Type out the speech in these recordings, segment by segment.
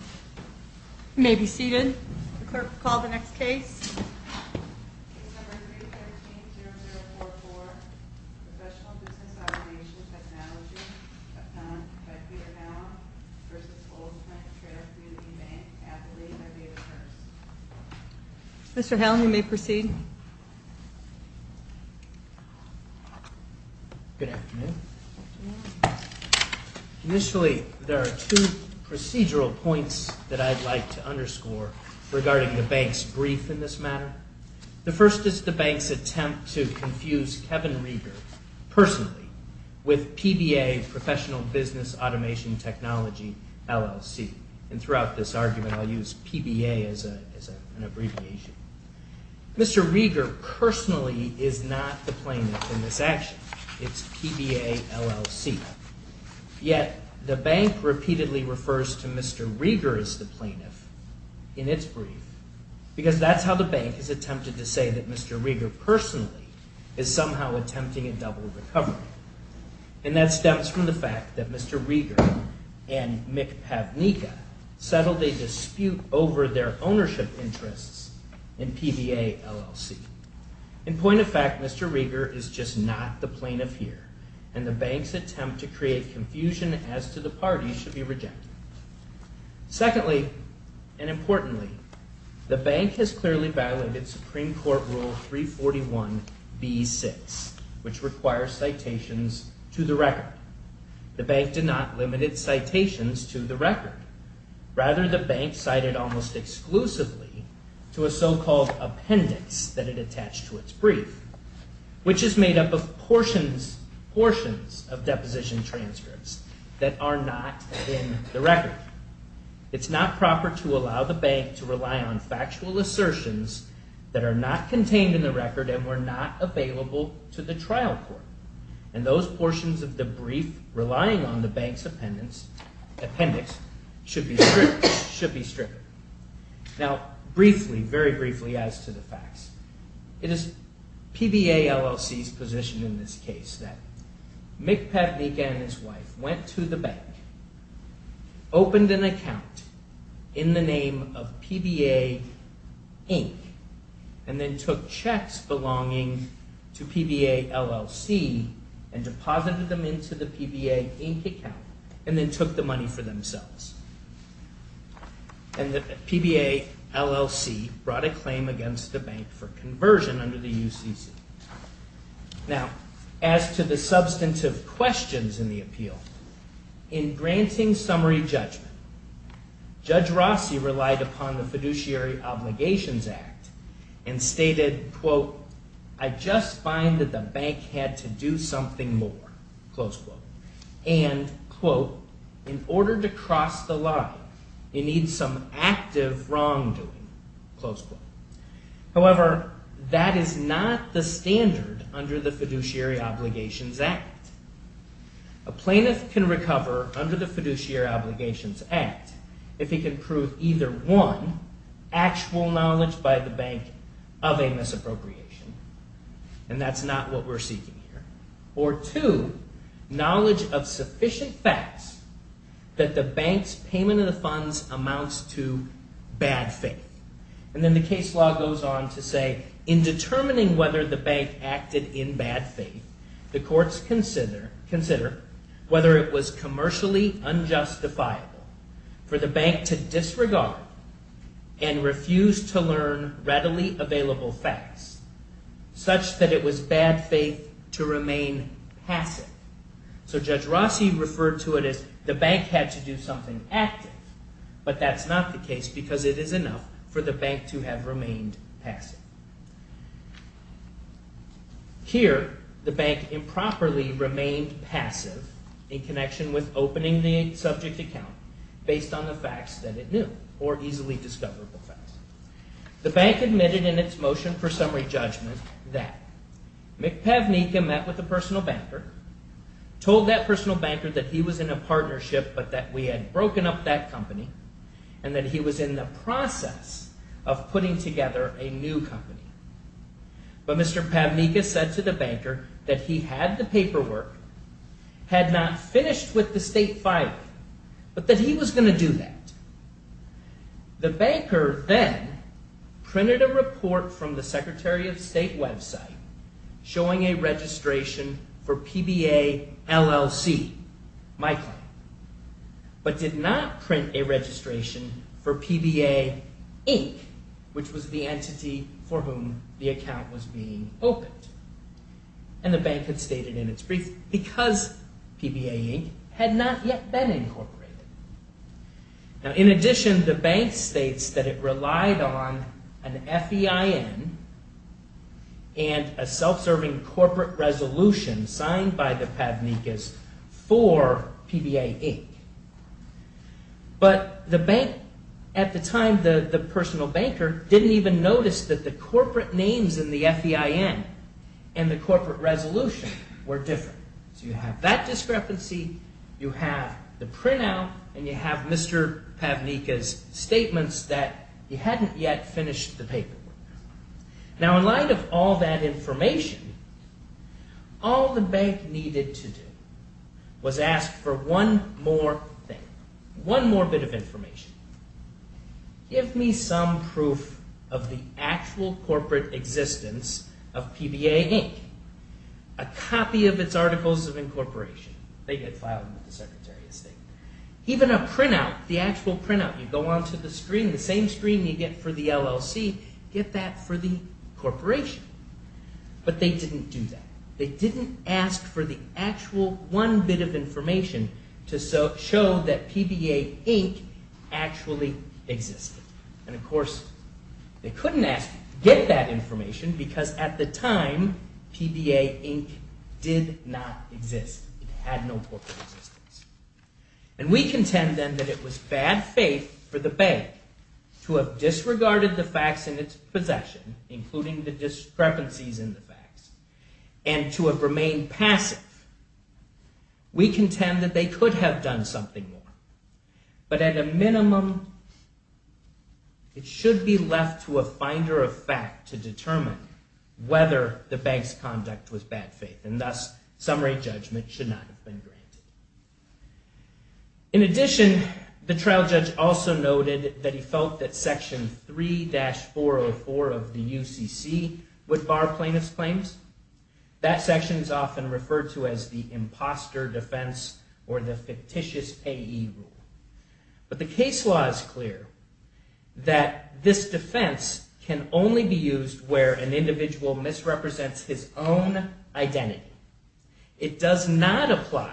You may be seated. The clerk will call the next case. Case number 313-0044, Professional Business Automation Technology, found by Peter Howell v. Old Plank Trail Community Bank, N.A. by David Hurst. Mr. Howell, you may proceed. Good afternoon. Initially, there are two procedural points that I'd like to underscore regarding the bank's brief in this matter. The first is the bank's attempt to confuse Kevin Rieger personally with PBA, Professional Business Automation Technology, LLC. And throughout this argument, I'll use PBA as an abbreviation. Mr. Rieger personally is not the plaintiff in this action. It's PBA, LLC. Yet, the bank repeatedly refers to Mr. Rieger as the plaintiff in its brief because that's how the bank has attempted to say that Mr. Rieger personally is somehow attempting a double recovery. And that stems from the fact that Mr. Rieger and Mick Pavnika settled a dispute over their ownership interests in PBA, LLC. In point of fact, Mr. Rieger is just not the plaintiff here, and the bank's attempt to create confusion as to the parties should be rejected. Secondly, and importantly, the bank has clearly violated Supreme Court Rule 341b6, which requires citations to the record. The bank did not limit its citations to the record. Rather, the bank cited almost exclusively to a so-called appendix that it attached to its brief, which is made up of portions of deposition transcripts that are not in the record. It's not proper to allow the bank to rely on factual assertions that are not contained in the record and were not available to the trial court. And those portions of the brief relying on the bank's appendix should be stripped. Now, briefly, very briefly as to the facts, it is PBA, LLC's position in this case that Mick Pavnika and his wife went to the bank, opened an account in the name of PBA, Inc., and then took checks belonging to PBA, LLC, and deposited them into the PBA, Inc. account, and then took the money for themselves. And the PBA, LLC brought a claim against the bank for conversion under the UCC. Now, as to the substantive questions in the appeal, in granting summary judgment, Judge Rossi relied upon the Fiduciary Obligations Act and stated, quote, I just find that the bank had to do something more, close quote. And, quote, in order to cross the line, it needs some active wrongdoing, close quote. However, that is not the standard under the Fiduciary Obligations Act. A plaintiff can recover under the Fiduciary Obligations Act if he can prove either, one, actual knowledge by the bank of a misappropriation, and that's not what we're seeking here, or two, knowledge of sufficient facts that the bank's payment of the funds amounts to bad faith. And then the case law goes on to say, in determining whether the bank acted in bad faith, the courts consider whether it was commercially unjustifiable for the bank to disregard and refuse to learn readily available facts such that it was bad faith to remain passive. So Judge Rossi referred to it as the bank had to do something active, but that's not the case because it is enough for the bank to have remained passive. Here, the bank improperly remained passive in connection with opening the subject account based on the facts that it knew, or easily discoverable facts. The bank admitted in its motion for summary judgment that McPavnicka met with a personal banker, told that personal banker that he was in a partnership but that we had broken up that company, and that he was in the process of putting together a new company. But Mr. Pavnicka said to the banker that he had the paperwork, had not finished with the state filing, but that he was going to do that. The banker then printed a report from the Secretary of State website showing a registration for PBA LLC, my client, but did not print a registration for PBA Inc., which was the entity for whom the account was being opened. And the bank had stated in its brief, because PBA Inc. had not yet been incorporated. In addition, the bank states that it relied on an FEIN and a self-serving corporate resolution signed by the Pavnickas for PBA Inc. But the bank, at the time, the personal banker, didn't even notice that the corporate names in the FEIN and the corporate resolution were different. So you have that discrepancy, you have the printout, and you have Mr. Pavnicka's statements that he hadn't yet finished the paperwork. Now, in light of all that information, all the bank needed to do was ask for one more thing, one more bit of information. Give me some proof of the actual corporate existence of PBA Inc., a copy of its Articles of Incorporation. They get filed with the Secretary of State. Even a printout, the actual printout, you go onto the screen, the same screen you get for the LLC, get that for the corporation. But they didn't do that. They didn't ask for the actual one bit of information to show that PBA Inc. actually existed. And of course, they couldn't get that information because at the time, PBA Inc. did not exist. It had no corporate existence. And we contend then that it was bad faith for the bank to have disregarded the facts in its possession, including the discrepancies in the facts, and to have remained passive. We contend that they could have done something more. But at a minimum, it should be left to a finder of fact to determine whether the bank's conduct was bad faith. And thus, summary judgment should not have been granted. In addition, the trial judge also noted that he felt that Section 3-404 of the UCC would bar plaintiff's claims. That section is often referred to as the imposter defense or the fictitious AE rule. But the case law is clear that this defense can only be used where an individual misrepresents his own identity. It does not apply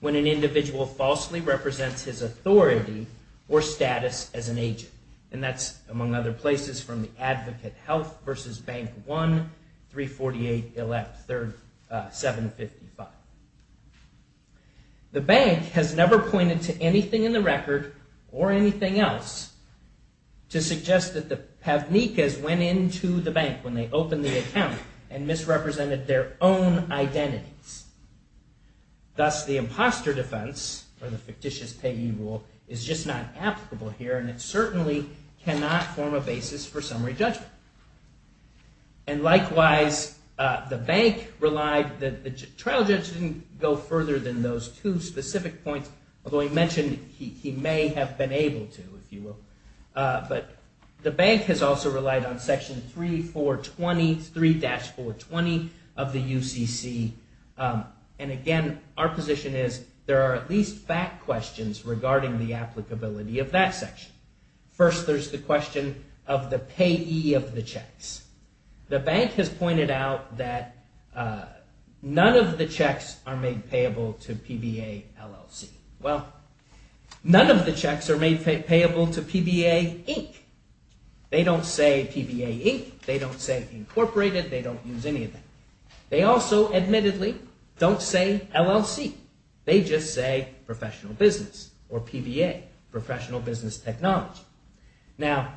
when an individual falsely represents his authority or status as an agent. And that's, among other places, from the Advocate Health v. Bank 1-348-755. The bank has never pointed to anything in the record or anything else to suggest that the Pavnikas went into the bank when they opened the account and misrepresented their own identities. Thus, the imposter defense or the fictitious AE rule is just not applicable here and it certainly cannot form a basis for summary judgment. And likewise, the bank relied, the trial judge didn't go further than those two specific points, although he mentioned he may have been able to, if you will. But the bank has also relied on Section 3420, 3-420 of the UCC. And again, our position is there are at least fact questions regarding the applicability of that section. First, there's the question of the payee of the checks. The bank has pointed out that none of the checks are made payable to PBA LLC. Well, none of the checks are made payable to PBA Inc. They don't say PBA Inc. They don't say Incorporated. They don't use any of that. They also admittedly don't say LLC. They just say professional business or PBA, professional business technology. Now,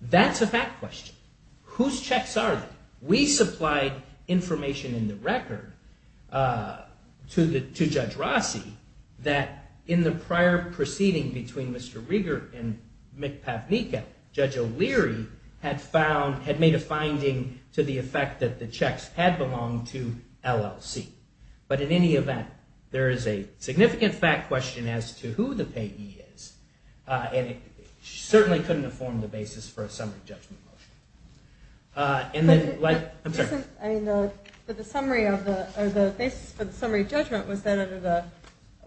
that's a fact question. Whose checks are they? We supplied information in the record to Judge Rossi that in the prior proceeding between Mr. Rieger and McPavnicka, Judge O'Leary had found, had made a finding to the effect that the checks had belonged to LLC. But in any event, there is a significant fact question as to who the payee is, and it certainly couldn't inform the basis for a summary judgment motion. And then, like, I'm sorry. I mean, the summary of the, or the basis for the summary judgment was then under the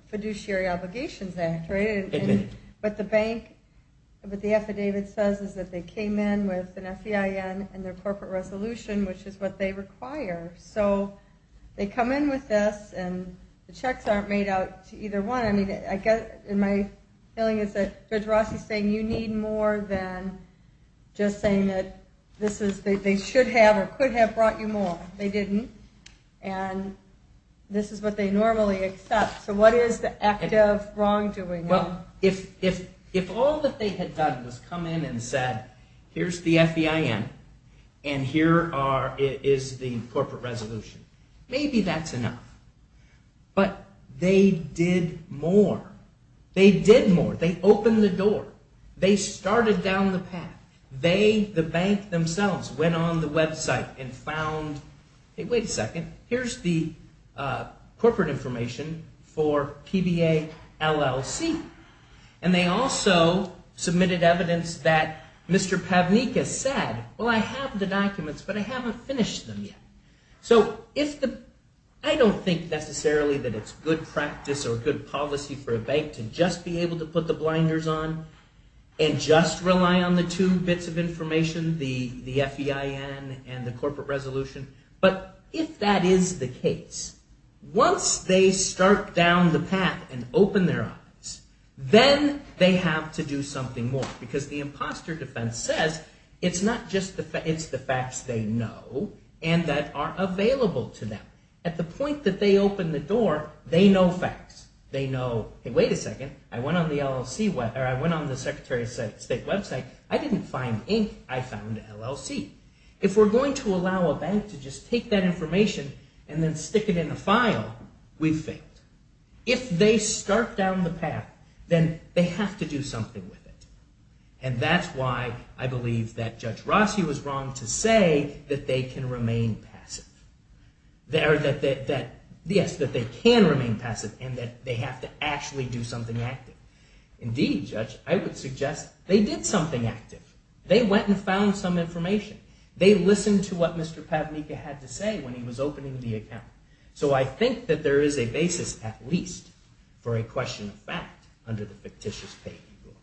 Fiduciary Obligations Act, right? And what the bank, what the affidavit says is that they came in with an FEIN and their corporate resolution, which is what they require. So they come in with this, and the checks aren't made out to either one. I mean, I guess, and my feeling is that Judge Rossi's saying you need more than just saying that this is, they should have or could have brought you more. They didn't. And this is what they normally accept. So what is the active wrongdoing? Well, if all that they had done was come in and said, here's the FEIN, and here is the corporate resolution, maybe that's enough. But they did more. They did more. They opened the door. They started down the path. They, the bank themselves, went on the website and found, hey, wait a second, here's the corporate information for PBA LLC. And they also submitted evidence that Mr. Pavnika said, well, I have the documents, but I haven't finished them yet. So if the, I don't think necessarily that it's good practice or good policy for a bank to just be able to put the blinders on and just rely on the two bits of information, the FEIN and the corporate resolution. But if that is the case, once they start down the path and open their eyes, then they have to do something more. Because the imposter defense says it's not just the facts, it's the facts they know and that are available to them. At the point that they open the door, they know facts. They know, hey, wait a second, I went on the LLC, or I went on the Secretary of State website, I didn't find ink, I found LLC. If we're going to allow a bank to just take that information and then stick it in a file, we've failed. If they start down the path, then they have to do something with it. And that's why I believe that Judge Rossi was wrong to say that they can remain passive. Yes, that they can remain passive and that they have to actually do something active. Indeed, Judge, I would suggest they did something active. They went and found some information. They listened to what Mr. Pavnika had to say when he was opening the account. So I think that there is a basis, at least, for a question of fact under the fictitious paying rule.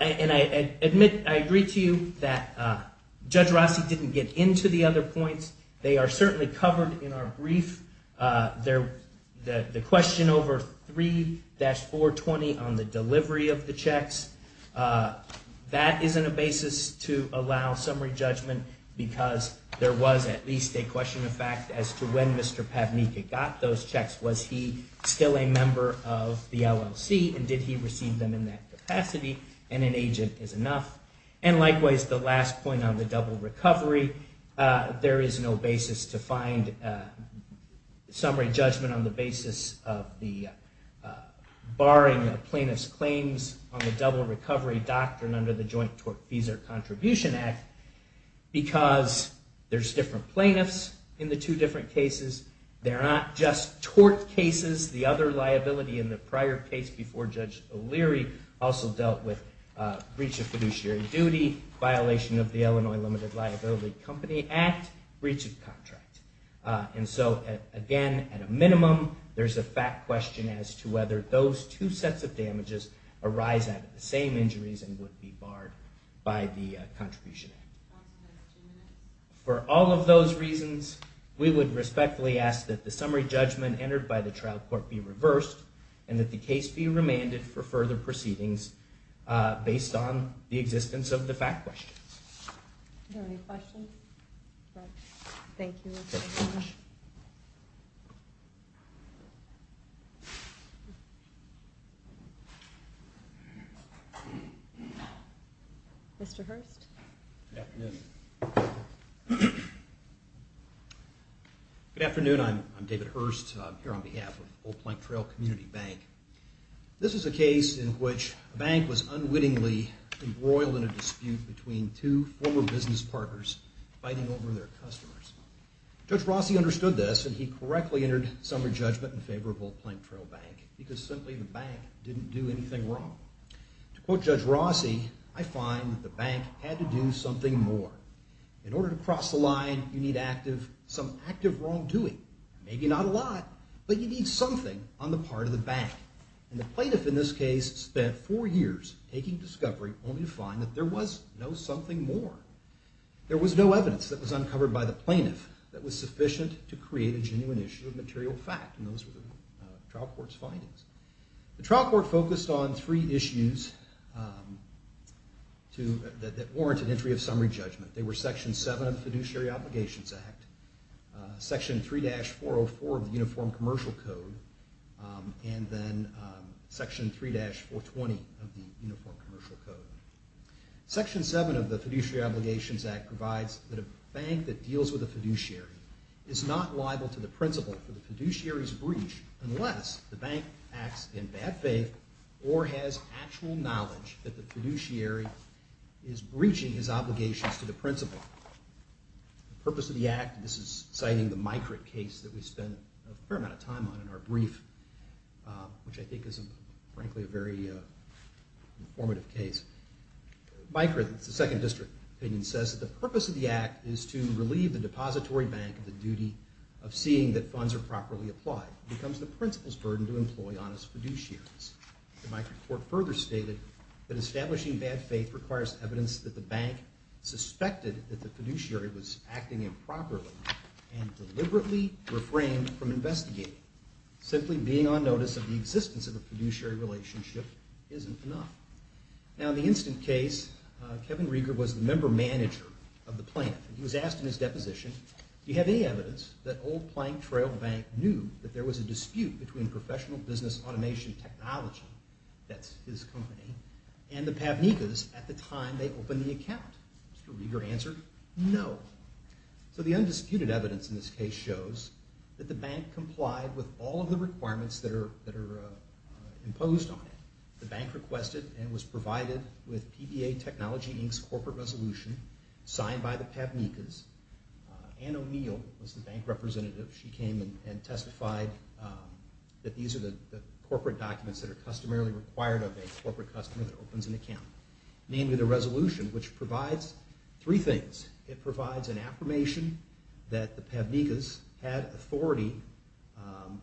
And I agree to you that Judge Rossi didn't get into the other points. They are certainly covered in our brief. The question over 3-420 on the delivery of the checks, that isn't a basis to allow summary judgment because there was at least a question of fact as to when Mr. Pavnika got those checks. Was he still a member of the LLC and did he receive them in that capacity? And an agent is enough. And likewise, the last point on the double recovery, there is no basis to find summary judgment on the basis of the barring of plaintiff's claims on the double recovery doctrine under the Joint Tort Fees or Contribution Act because there's different plaintiffs in the two different cases. They're not just tort cases. The other liability in the prior case before Judge O'Leary also dealt with breach of fiduciary duty, violation of the Illinois Limited Liability Company Act, breach of contract. And so again, at a minimum, there's a fact question as to whether those two sets of damages arise out of the same injuries and would be barred by the Contribution Act. For all of those reasons, we would respectfully ask that the summary judgment entered by the trial court be reversed and that the case be remanded for further proceedings based on the existence of the fact questions. Are there any questions? Thank you. Mr. Hurst? Good afternoon. Good afternoon. I'm David Hurst. I'm here on behalf of Old Plank Trail Community Bank. This is a case in which a bank was unwittingly embroiled in a dispute between two former business partners fighting over their customers. Judge Rossi understood this, and he correctly entered summary judgment in favor of Old Plank Trail Bank because simply the bank didn't do anything wrong. To quote Judge Rossi, I find that the bank had to do something more. In order to cross the line, you need some active wrongdoing. Maybe not a lot, but you need something on the part of the bank. And the plaintiff in this case spent four years taking discovery only to find that there was no something more. There was no evidence that was uncovered by the plaintiff that was sufficient to create a genuine issue of material fact, and those were the trial court's findings. The trial court focused on three issues that warranted entry of summary judgment. They were Section 7 of the Fiduciary Obligations Act, Section 3-404 of the Uniform Commercial Code, and then Section 3-420 of the Uniform Commercial Code. Section 7 of the Fiduciary Obligations Act provides that a bank that deals with a fiduciary is not liable to the principal for the fiduciary's breach unless the bank acts in bad faith or has actual knowledge that the fiduciary is breaching his obligations to the principal. The purpose of the act, and this is citing the Mikrit case that we spent a fair amount of time on in our brief, which I think is, frankly, a very informative case. Mikrit, the Second District opinion, says that the purpose of the act is to relieve the depository bank of the duty of seeing that funds are properly applied. It becomes the principal's burden to employ on his fiduciaries. The Mikrit court further stated that establishing bad faith requires evidence that the bank suspected that the fiduciary was acting improperly and deliberately refrained from investigating. Simply being on notice of the existence of a fiduciary relationship isn't enough. Now, in the instant case, Kevin Rieger was the member manager of the plant. He was asked in his deposition, do you have any evidence that Old Plank Trail Bank knew that there was a dispute between Professional Business Automation Technology, that's his company, and the Pavnikas at the time they opened the account? Mr. Rieger answered, no. So the undisputed evidence in this case shows that the bank complied with all of the requirements that are imposed on it. The bank requested and was provided with PBA Technology Inc.'s corporate resolution signed by the Pavnikas. Anne O'Neill was the bank representative. She came and testified that these are the corporate documents that are customarily required of a corporate customer that opens an account. Namely, the resolution, which provides three things. It provides an affirmation that the Pavnikas had authority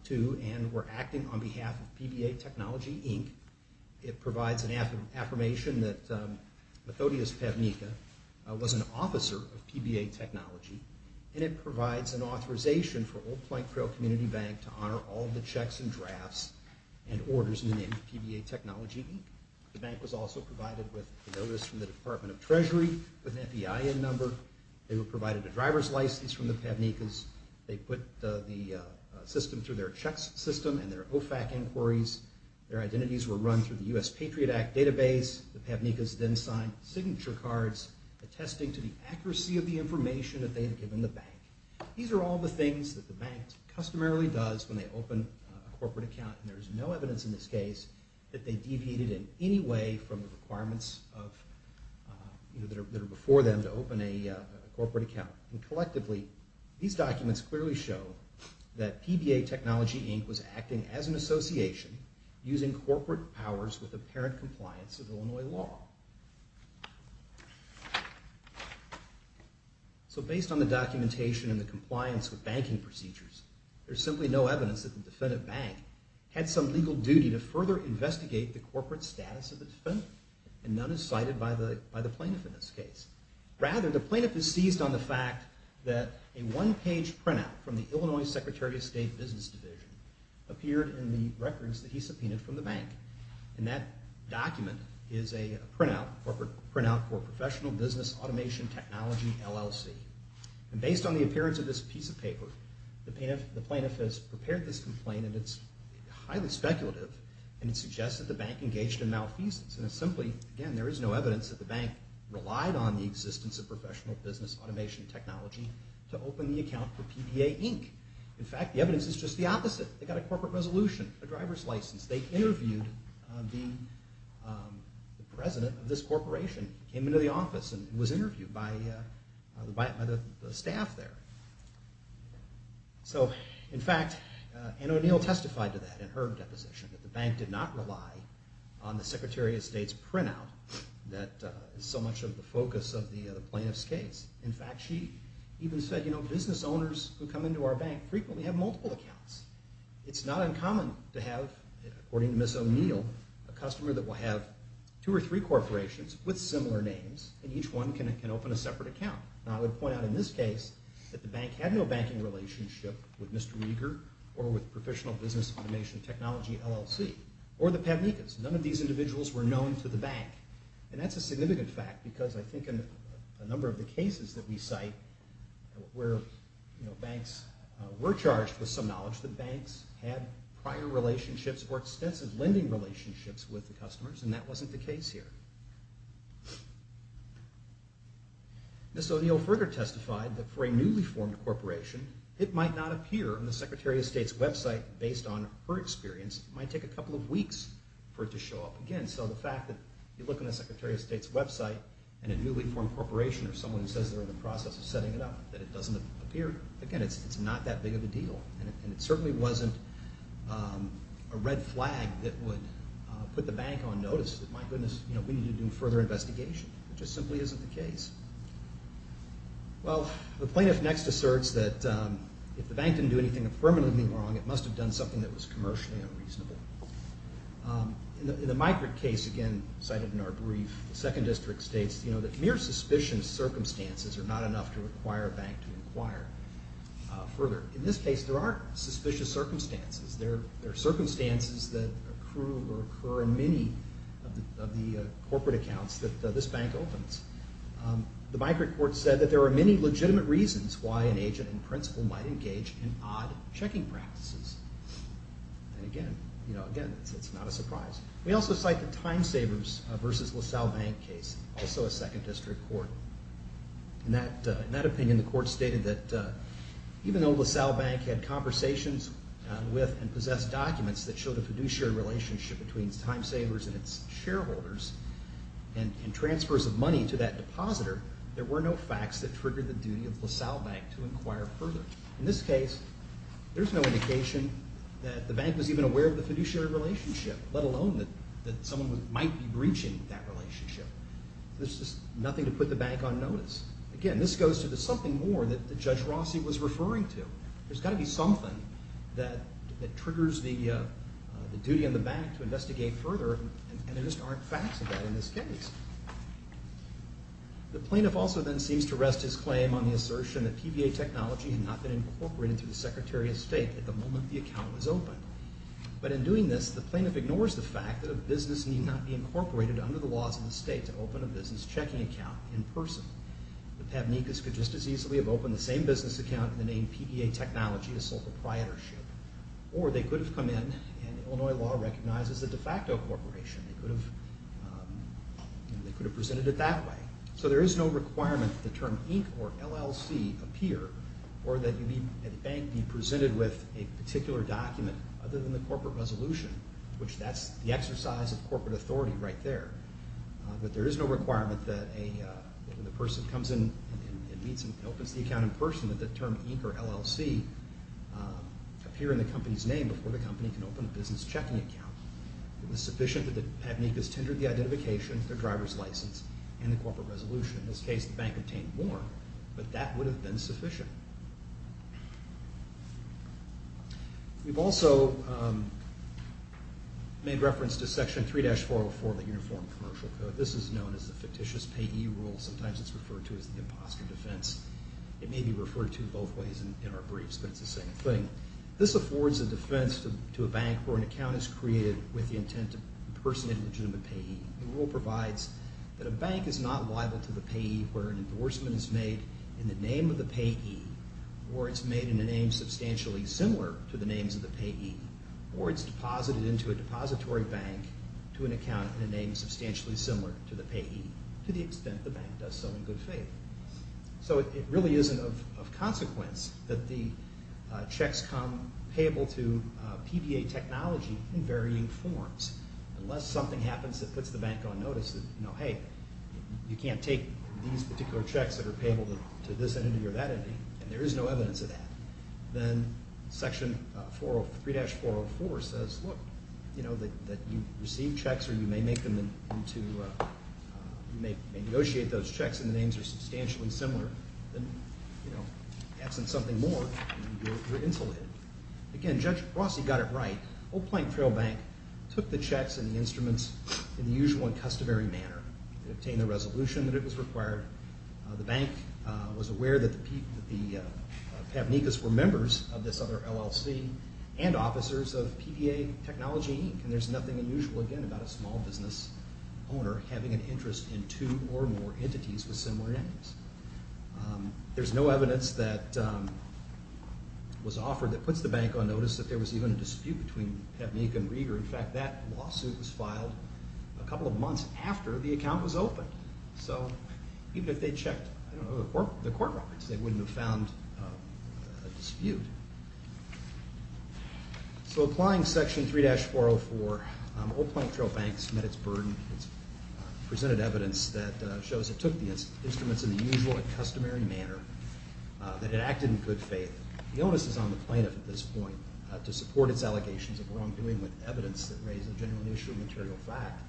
to and were acting on behalf of PBA Technology Inc. It provides an affirmation that Methodius Pavnika was an officer of PBA Technology. And it provides an authorization for Old Plank Trail Community Bank to honor all of the checks and drafts and orders in the name of PBA Technology Inc. The bank was also provided with a notice from the Department of Treasury, with an FEIN number. They were provided a driver's license from the Pavnikas. They put the system through their checks system and their OFAC inquiries. Their identities were run through the US Patriot Act database. The Pavnikas then signed signature cards attesting to the accuracy of the information that they had given the bank. These are all the things that the bank customarily does when they open a corporate account, and there is no evidence in this case that they deviated in any way from the requirements that are before them to open a corporate account. Collectively, these documents clearly show that PBA Technology Inc. was acting as an association using corporate powers with apparent compliance with Illinois law. So based on the documentation and the compliance with banking procedures, there's simply no evidence that the defendant bank had some legal duty to further investigate the corporate status of the defendant, and none is cited by the plaintiff in this case. Rather, the plaintiff is seized on the fact that a one-page printout from the Illinois Secretary of State Business Division appeared in the records that he subpoenaed from the bank, and that document is a printout for Professional Business Automation Technology, LLC. And based on the appearance of this piece of paper, the plaintiff has prepared this complaint, and it's highly speculative, and it suggests that the bank engaged in malfeasance and it's simply, again, there is no evidence that the bank relied on the existence of Professional Business Automation Technology to open the account for PBA Inc. In fact, the evidence is just the opposite. They got a corporate resolution, a driver's license, they interviewed the president of this corporation, came into the office, and was interviewed by the staff there. So, in fact, Anne O'Neill testified to that in her deposition, that the bank did not rely on the Secretary of State's printout. That is so much of the focus of the plaintiff's case. In fact, she even said, you know, business owners who come into our bank frequently have multiple accounts. It's not uncommon to have, according to Ms. O'Neill, a customer that will have two or three corporations with similar names, and each one can open a separate account. Now, I would point out in this case that the bank had no banking relationship with Mr. Rieger or with Professional Business Automation Technology, LLC, or the Pavnikas. None of these individuals were known to the bank. And that's a significant fact, because I think in a number of the cases that we cite, where banks were charged with some knowledge, the banks had prior relationships or extensive lending relationships with the customers, and that wasn't the case here. Ms. O'Neill further testified that for a newly formed corporation, it might not appear on the Secretary of State's website, based on her experience. It might take a couple of weeks for it to show up again. So the fact that you look on the Secretary of State's website and a newly formed corporation or someone who says they're in the process of setting it up, that it doesn't appear, again, it's not that big of a deal. And it certainly wasn't a red flag that would put the bank on notice that, my goodness, we need to do further investigation. It just simply isn't the case. Well, the plaintiff next asserts that if the bank didn't do anything affirmatively wrong, it must have done something that was commercially unreasonable. In the Migrate case, again, cited in our brief, the Second District states, you know, that mere suspicious circumstances are not enough to require a bank to inquire further. In this case, there are suspicious circumstances. There are circumstances that accrue or occur in many of the corporate accounts that this bank opens. The Migrate court said that there are many legitimate reasons why an agent in principle might engage in odd checking practices. And again, you know, again, it's not a surprise. We also cite the Time Savers v. LaSalle Bank case, also a Second District court. In that opinion, the court stated that even though LaSalle Bank had conversations with and possessed documents that showed a fiduciary relationship between Time Savers and its shareholders and transfers of money to that depositor, there were no facts that triggered the duty of LaSalle Bank to inquire further. In this case, there's no indication that the bank was even aware of the fiduciary relationship, let alone that someone might be breaching that relationship. There's just nothing to put the bank on notice. Again, this goes to the something more that Judge Rossi was referring to. There's got to be something that triggers the duty on the bank to investigate further, and there just aren't facts of that in this case. The plaintiff also then seems to rest his claim on the assertion that PBA technology had not been incorporated through the Secretary of State at the moment the account was opened. But in doing this, the plaintiff ignores the fact that a business need not be incorporated under the laws of the state to open a business checking account in person. The Pavnikas could just as easily have opened the same business account in the name PBA technology as sole proprietorship. Or they could have come in, and Illinois law recognizes a de facto corporation. They could have presented it that way. So there is no requirement that the term Inc. or LLC appear or that the bank be presented with a particular document other than the corporate resolution, which that's the exercise of corporate authority right there. But there is no requirement that when the person comes in and opens the account in person that the term Inc. or LLC appear in the company's name before the company can open a business checking account. It was sufficient that the Pavnikas tendered the identification, their driver's license, and the corporate resolution. In this case, the bank obtained more, but that would have been sufficient. We've also made reference to Section 3-404 of the Uniform Commercial Code. This is known as the fictitious payee rule. Sometimes it's referred to as the imposter defense. It may be referred to both ways in our briefs, but it's the same thing. This affords a defense to a bank where an account is created with the intent to impersonate a legitimate payee. The rule provides that a bank is not liable to the payee where an endorsement is made in the name of the payee or it's made in a name substantially similar to the names of the payee or it's deposited into a depository bank to an account in a name substantially similar to the payee to the extent the bank does so in good faith. So it really isn't of consequence that the checks come payable to PBA technology in varying forms. Unless something happens that puts the bank on notice that, you know, hey, you can't take these particular checks that are payable to this entity or that entity, and there is no evidence of that, then Section 3-404 says, look, that you receive checks or you may negotiate those checks and the names are substantially similar. Then, you know, absent something more, you're insulated. Again, Judge Rossi got it right. Old Plank Trail Bank took the checks and the instruments in the usual and customary manner. It obtained the resolution that it was required. The bank was aware that the Pabnicos were members of this other LLC and officers of PBA Technology, and there's nothing unusual, again, about a small business owner having an interest in two or more entities with similar names. There's no evidence that was offered that puts the bank on notice that there was even a dispute between Pabnicum and Rieger. In fact, that lawsuit was filed a couple of months after the account was opened. So even if they checked, I don't know, the court records, they wouldn't have found a dispute. So applying Section 3-404, Old Plank Trail Bank's met its burden. It's presented evidence that shows it took the instruments in the usual and customary manner, that it acted in good faith. The onus is on the plaintiff at this point to support its allegations of wrongdoing with evidence that raised a general issue of material fact,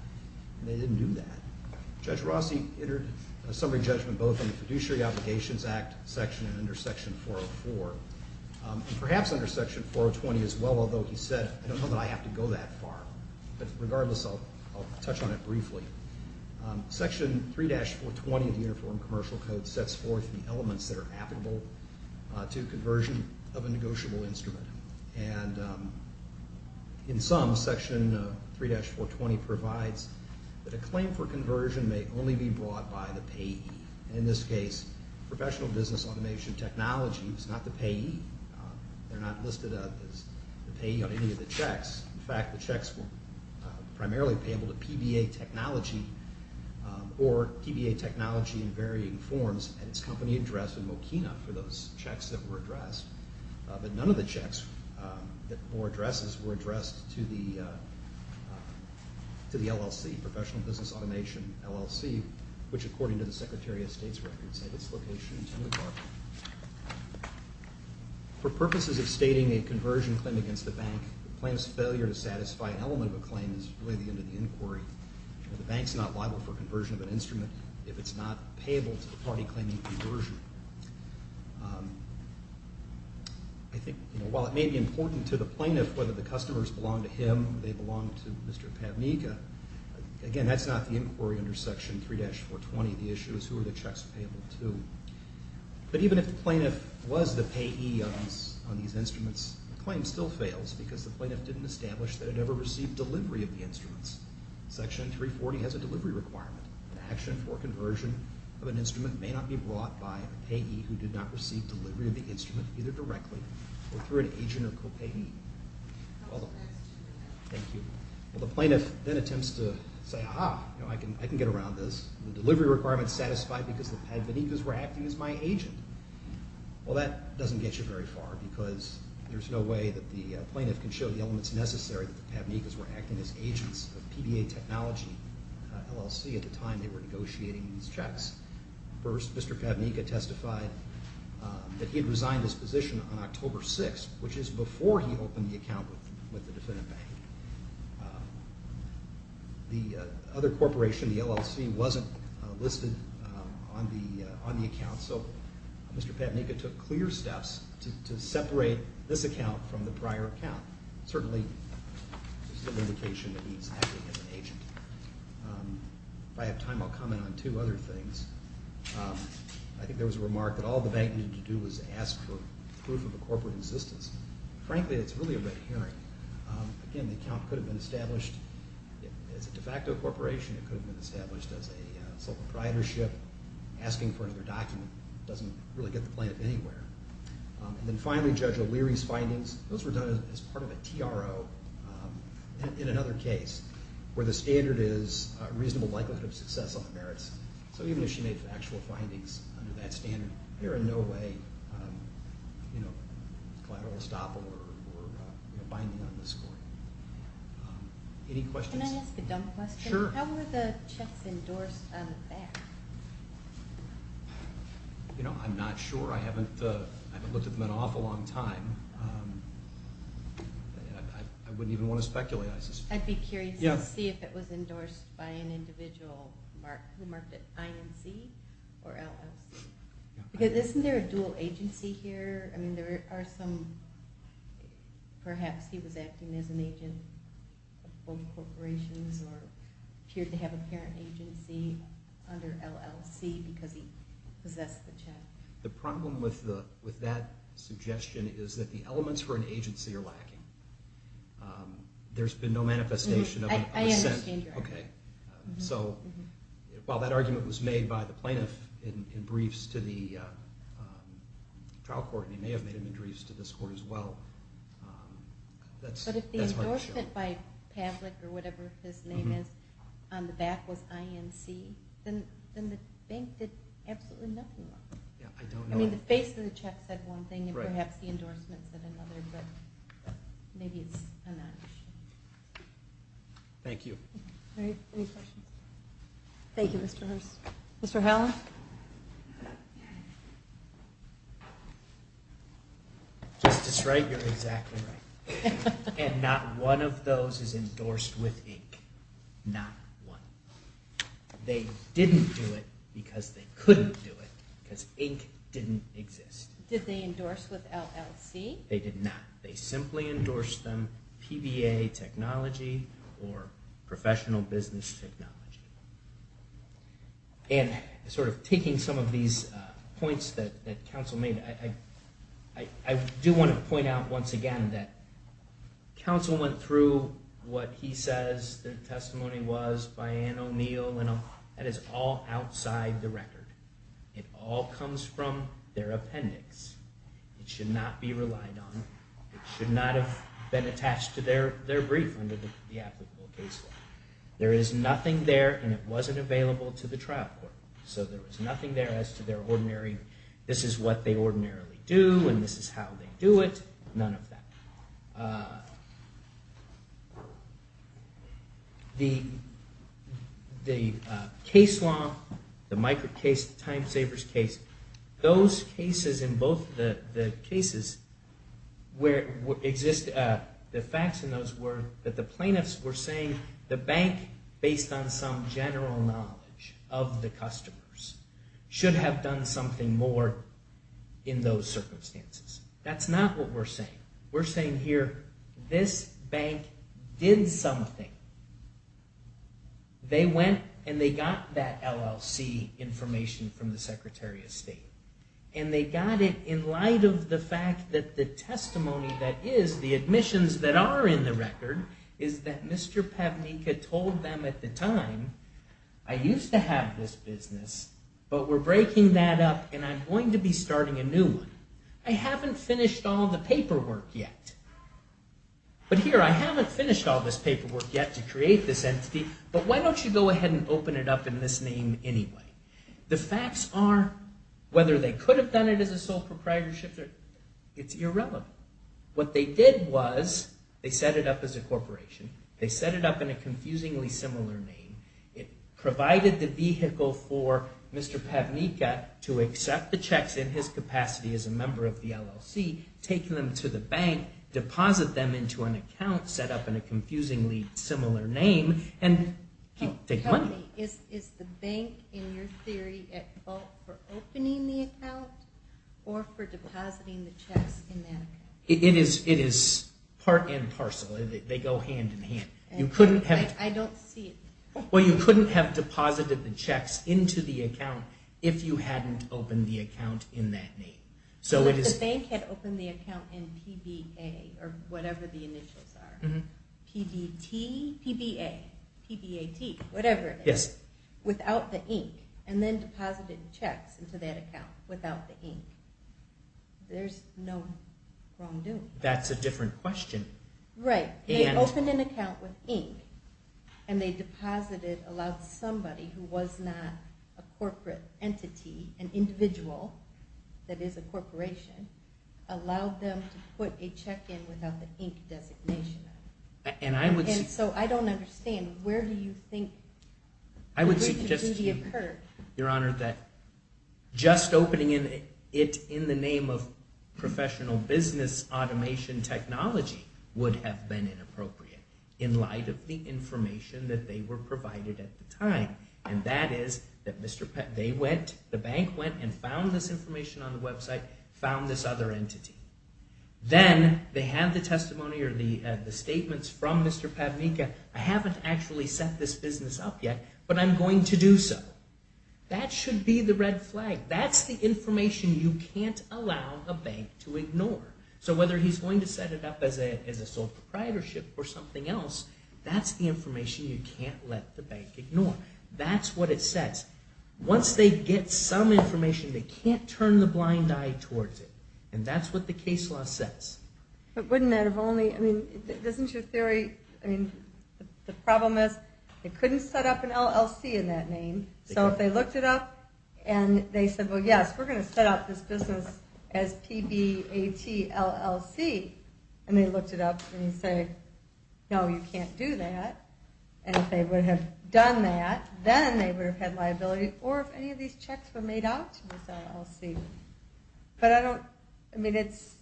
and they didn't do that. Judge Rossi entered a summary judgment both in the Fiduciary Obligations Act section and under Section 404, and perhaps under Section 420 as well, although he said, I don't know that I have to go that far. But regardless, I'll touch on it briefly. Section 3-420 of the Uniform Commercial Code sets forth the elements that are applicable to conversion of a negotiable instrument. And in sum, Section 3-420 provides that a claim for conversion may only be brought by the payee. In this case, professional business automation technology is not the payee. They're not listed as the payee on any of the checks. In fact, the checks were primarily payable to PBA Technology or PBA Technology in varying forms at its company address in Mokina for those checks that were addressed. But none of the checks or addresses were addressed to the LLC, Professional Business Automation LLC, which according to the Secretary of State's records, had its location in Tenley Park. For purposes of stating a conversion claim against the bank, the plaintiff's failure to satisfy an element of a claim is really the end of the inquiry. The bank's not liable for conversion of an instrument if it's not payable to the party claiming conversion. I think while it may be important to the plaintiff whether the customers belong to him or they belong to Mr. Pavnika, again, that's not the inquiry under Section 3-420. The issue is who are the checks payable to. But even if the plaintiff was the payee on these instruments, the claim still fails because the plaintiff didn't establish that it ever received delivery of the instruments. Section 3-420 has a delivery requirement. An action for conversion of an instrument may not be brought by a payee who did not receive delivery of the instrument either directly or through an agent or co-payee. Thank you. Well, the plaintiff then attempts to say, ah-ha, I can get around this. The delivery requirement's satisfied because the Pavnikas were acting as my agent. Well, that doesn't get you very far because there's no way that the plaintiff can show the elements necessary that the Pavnikas were acting as agents of PBA Technology LLC at the time they were negotiating these checks. First, Mr. Pavnika testified that he had resigned his position on October 6th, which is before he opened the account with the defendant bank. The other corporation, the LLC, wasn't listed on the account, so Mr. Pavnika took clear steps to separate this account from the prior account. Certainly, this is an indication that he's acting as an agent. If I have time, I'll comment on two other things. I think there was a remark that all the bank needed to do was ask for proof of a corporate existence. Frankly, it's really a red herring. Again, the account could have been established as a de facto corporation. It could have been established as a sole proprietorship. Asking for another document doesn't really get the plaintiff anywhere. And then finally, Judge O'Leary's findings, those were done as part of a TRO in another case where the standard is reasonable likelihood of success on the merits. So even if she made factual findings under that standard, there are in no way collateral estoppel or binding on this court. Any questions? Can I ask a dumb question? Sure. How were the checks endorsed on the back? I'm not sure. I haven't looked at them in an awful long time. I wouldn't even want to speculate. I'd be curious to see if it was endorsed by an individual who marked it INC or LLC. Isn't there a dual agency here? I mean, there are some. Perhaps he was acting as an agent of both corporations or appeared to have a parent agency under LLC because he possessed the check. The problem with that suggestion is that the elements for an agency are lacking. There's been no manifestation of an assent. I understand your argument. So while that argument was made by the plaintiff in briefs to the trial court and he may have made them in briefs to this court as well, that's hard to show. But if the endorsement by Pavlik or whatever his name is on the back was INC, then the bank did absolutely nothing wrong. I mean, the face of the check said one thing and perhaps the endorsement said another, but maybe it's a non-issue. Thank you. Any questions? Thank you, Mr. Hearst. Mr. Howell? Justice Wright, you're exactly right. And not one of those is endorsed with INC. Not one. They didn't do it because they couldn't do it because INC didn't exist. Did they endorse with LLC? They did not. They simply endorsed them PBA technology or professional business technology. And sort of taking some of these points that counsel made, I do want to point out once again that counsel went through what he says the testimony was by Anne O'Neill, and that is all outside the record. It all comes from their appendix. It should not be relied on. It should not have been attached to their brief under the applicable case law. There is nothing there, and it wasn't available to the trial court. So there was nothing there as to their ordinary, this is what they ordinarily do and this is how they do it. None of that. The case law, the micro case, the time saver's case, those cases in both the cases where it exists, the facts in those were that the plaintiffs were saying the bank, based on some general knowledge of the customers, should have done something more in those circumstances. That's not what we're saying. We're saying here this bank did something. They went and they got that LLC information from the Secretary of State. And they got it in light of the fact that the testimony that is, the admissions that are in the record, is that Mr. Pavnika told them at the time, I used to have this business, but we're breaking that up and I'm going to be starting a new one. I haven't finished all the paperwork yet. But here, I haven't finished all this paperwork yet to create this entity, but why don't you go ahead and open it up in this name anyway? The facts are, whether they could have done it as a sole proprietorship, it's irrelevant. What they did was they set it up as a corporation. They set it up in a confusingly similar name. It provided the vehicle for Mr. Pavnika to accept the checks in his capacity as a member of the LLC, take them to the bank, deposit them into an account set up in a confusingly similar name, and take money. Tell me, is the bank, in your theory, at fault for opening the account or for depositing the checks in that account? It is part and parcel. They go hand in hand. I don't see it. Well, you couldn't have deposited the checks into the account if you hadn't opened the account in that name. So if the bank had opened the account in PBA or whatever the initials are, PBT, PBA, PBAT, whatever it is, without the ink, and then deposited checks into that account without the ink, there's no wrongdoing. That's a different question. Right, they opened an account with ink, and they deposited, allowed somebody who was not a corporate entity, an individual that is a corporation, allowed them to put a check in without the ink designation on it. And so I don't understand. Where do you think the breach of duty occurred? Your Honor, just opening it in the name of professional business automation technology would have been inappropriate in light of the information that they were provided at the time, and that is that the bank went and found this information on the website, found this other entity. Then they have the testimony or the statements from Mr. Padmika, I haven't actually set this business up yet, but I'm going to do so. That should be the red flag. That's the information you can't allow a bank to ignore. So whether he's going to set it up as a sole proprietorship or something else, that's the information you can't let the bank ignore. That's what it says. Once they get some information, they can't turn the blind eye towards it, and that's what the case law says. But wouldn't that have only, I mean, doesn't your theory, I mean, the problem is they couldn't set up an LLC in that name, so if they looked it up and they said, well, yes, we're going to set up this business as P-B-A-T-L-L-C, and they looked it up and they say, no, you can't do that, and if they would have done that, then they would have had liability, or if any of these checks were made out to this LLC. But I don't, I mean, it's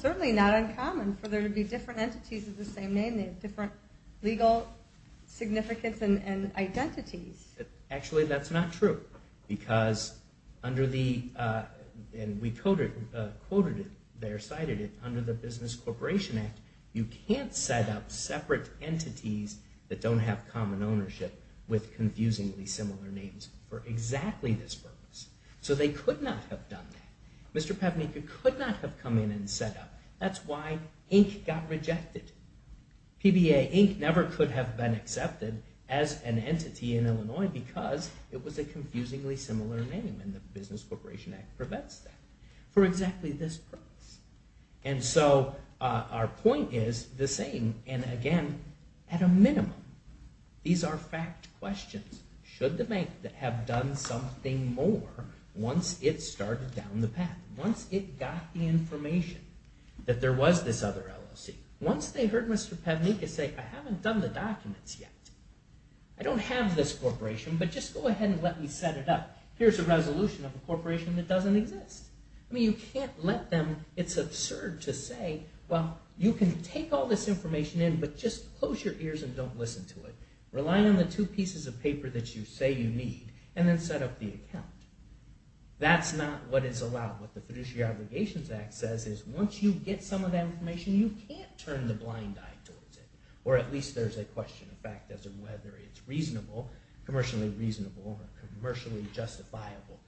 certainly not uncommon for there to be different entities of the same name, they have different legal significance and identities. Actually, that's not true, because under the, and we quoted it, cited it under the Business Corporation Act, you can't set up separate entities that don't have common ownership with confusingly similar names for exactly this purpose. So they could not have done that. Mr. Pevnick could not have come in and set up. That's why Inc. got rejected. PBA Inc. never could have been accepted as an entity in Illinois because it was a confusingly similar name, and the Business Corporation Act prevents that for exactly this purpose. And so our point is the same, and again, at a minimum, these are fact questions. Should the bank have done something more once it started down the path, once it got the information that there was this other LLC, once they heard Mr. Pevnick say, I haven't done the documents yet, I don't have this corporation, but just go ahead and let me set it up, here's a resolution of a corporation that doesn't exist. I mean, you can't let them, it's absurd to say, well, you can take all this information in, but just close your ears and don't listen to it. Rely on the two pieces of paper that you say you need, and then set up the account. That's not what is allowed. What the Fiduciary Obligations Act says is, once you get some of that information, you can't turn the blind eye towards it. Or at least there's a question of fact as to whether it's reasonable, commercially reasonable or commercially justifiable,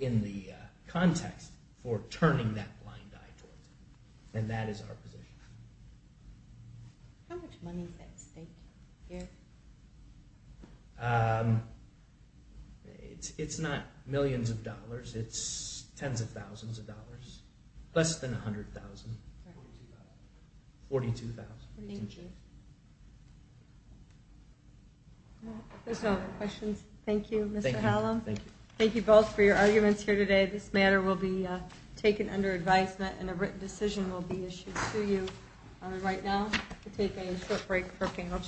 in the context for turning that blind eye towards it. And that is our position. How much money is that state here? It's not millions of dollars, it's tens of thousands of dollars. Less than $100,000. $42,000. Thank you. If there's no other questions, thank you, Mr. Hallam. Thank you both for your arguments here today. This matter will be taken under advisement and a written decision will be issued to you right now. We'll take a short break for panel change.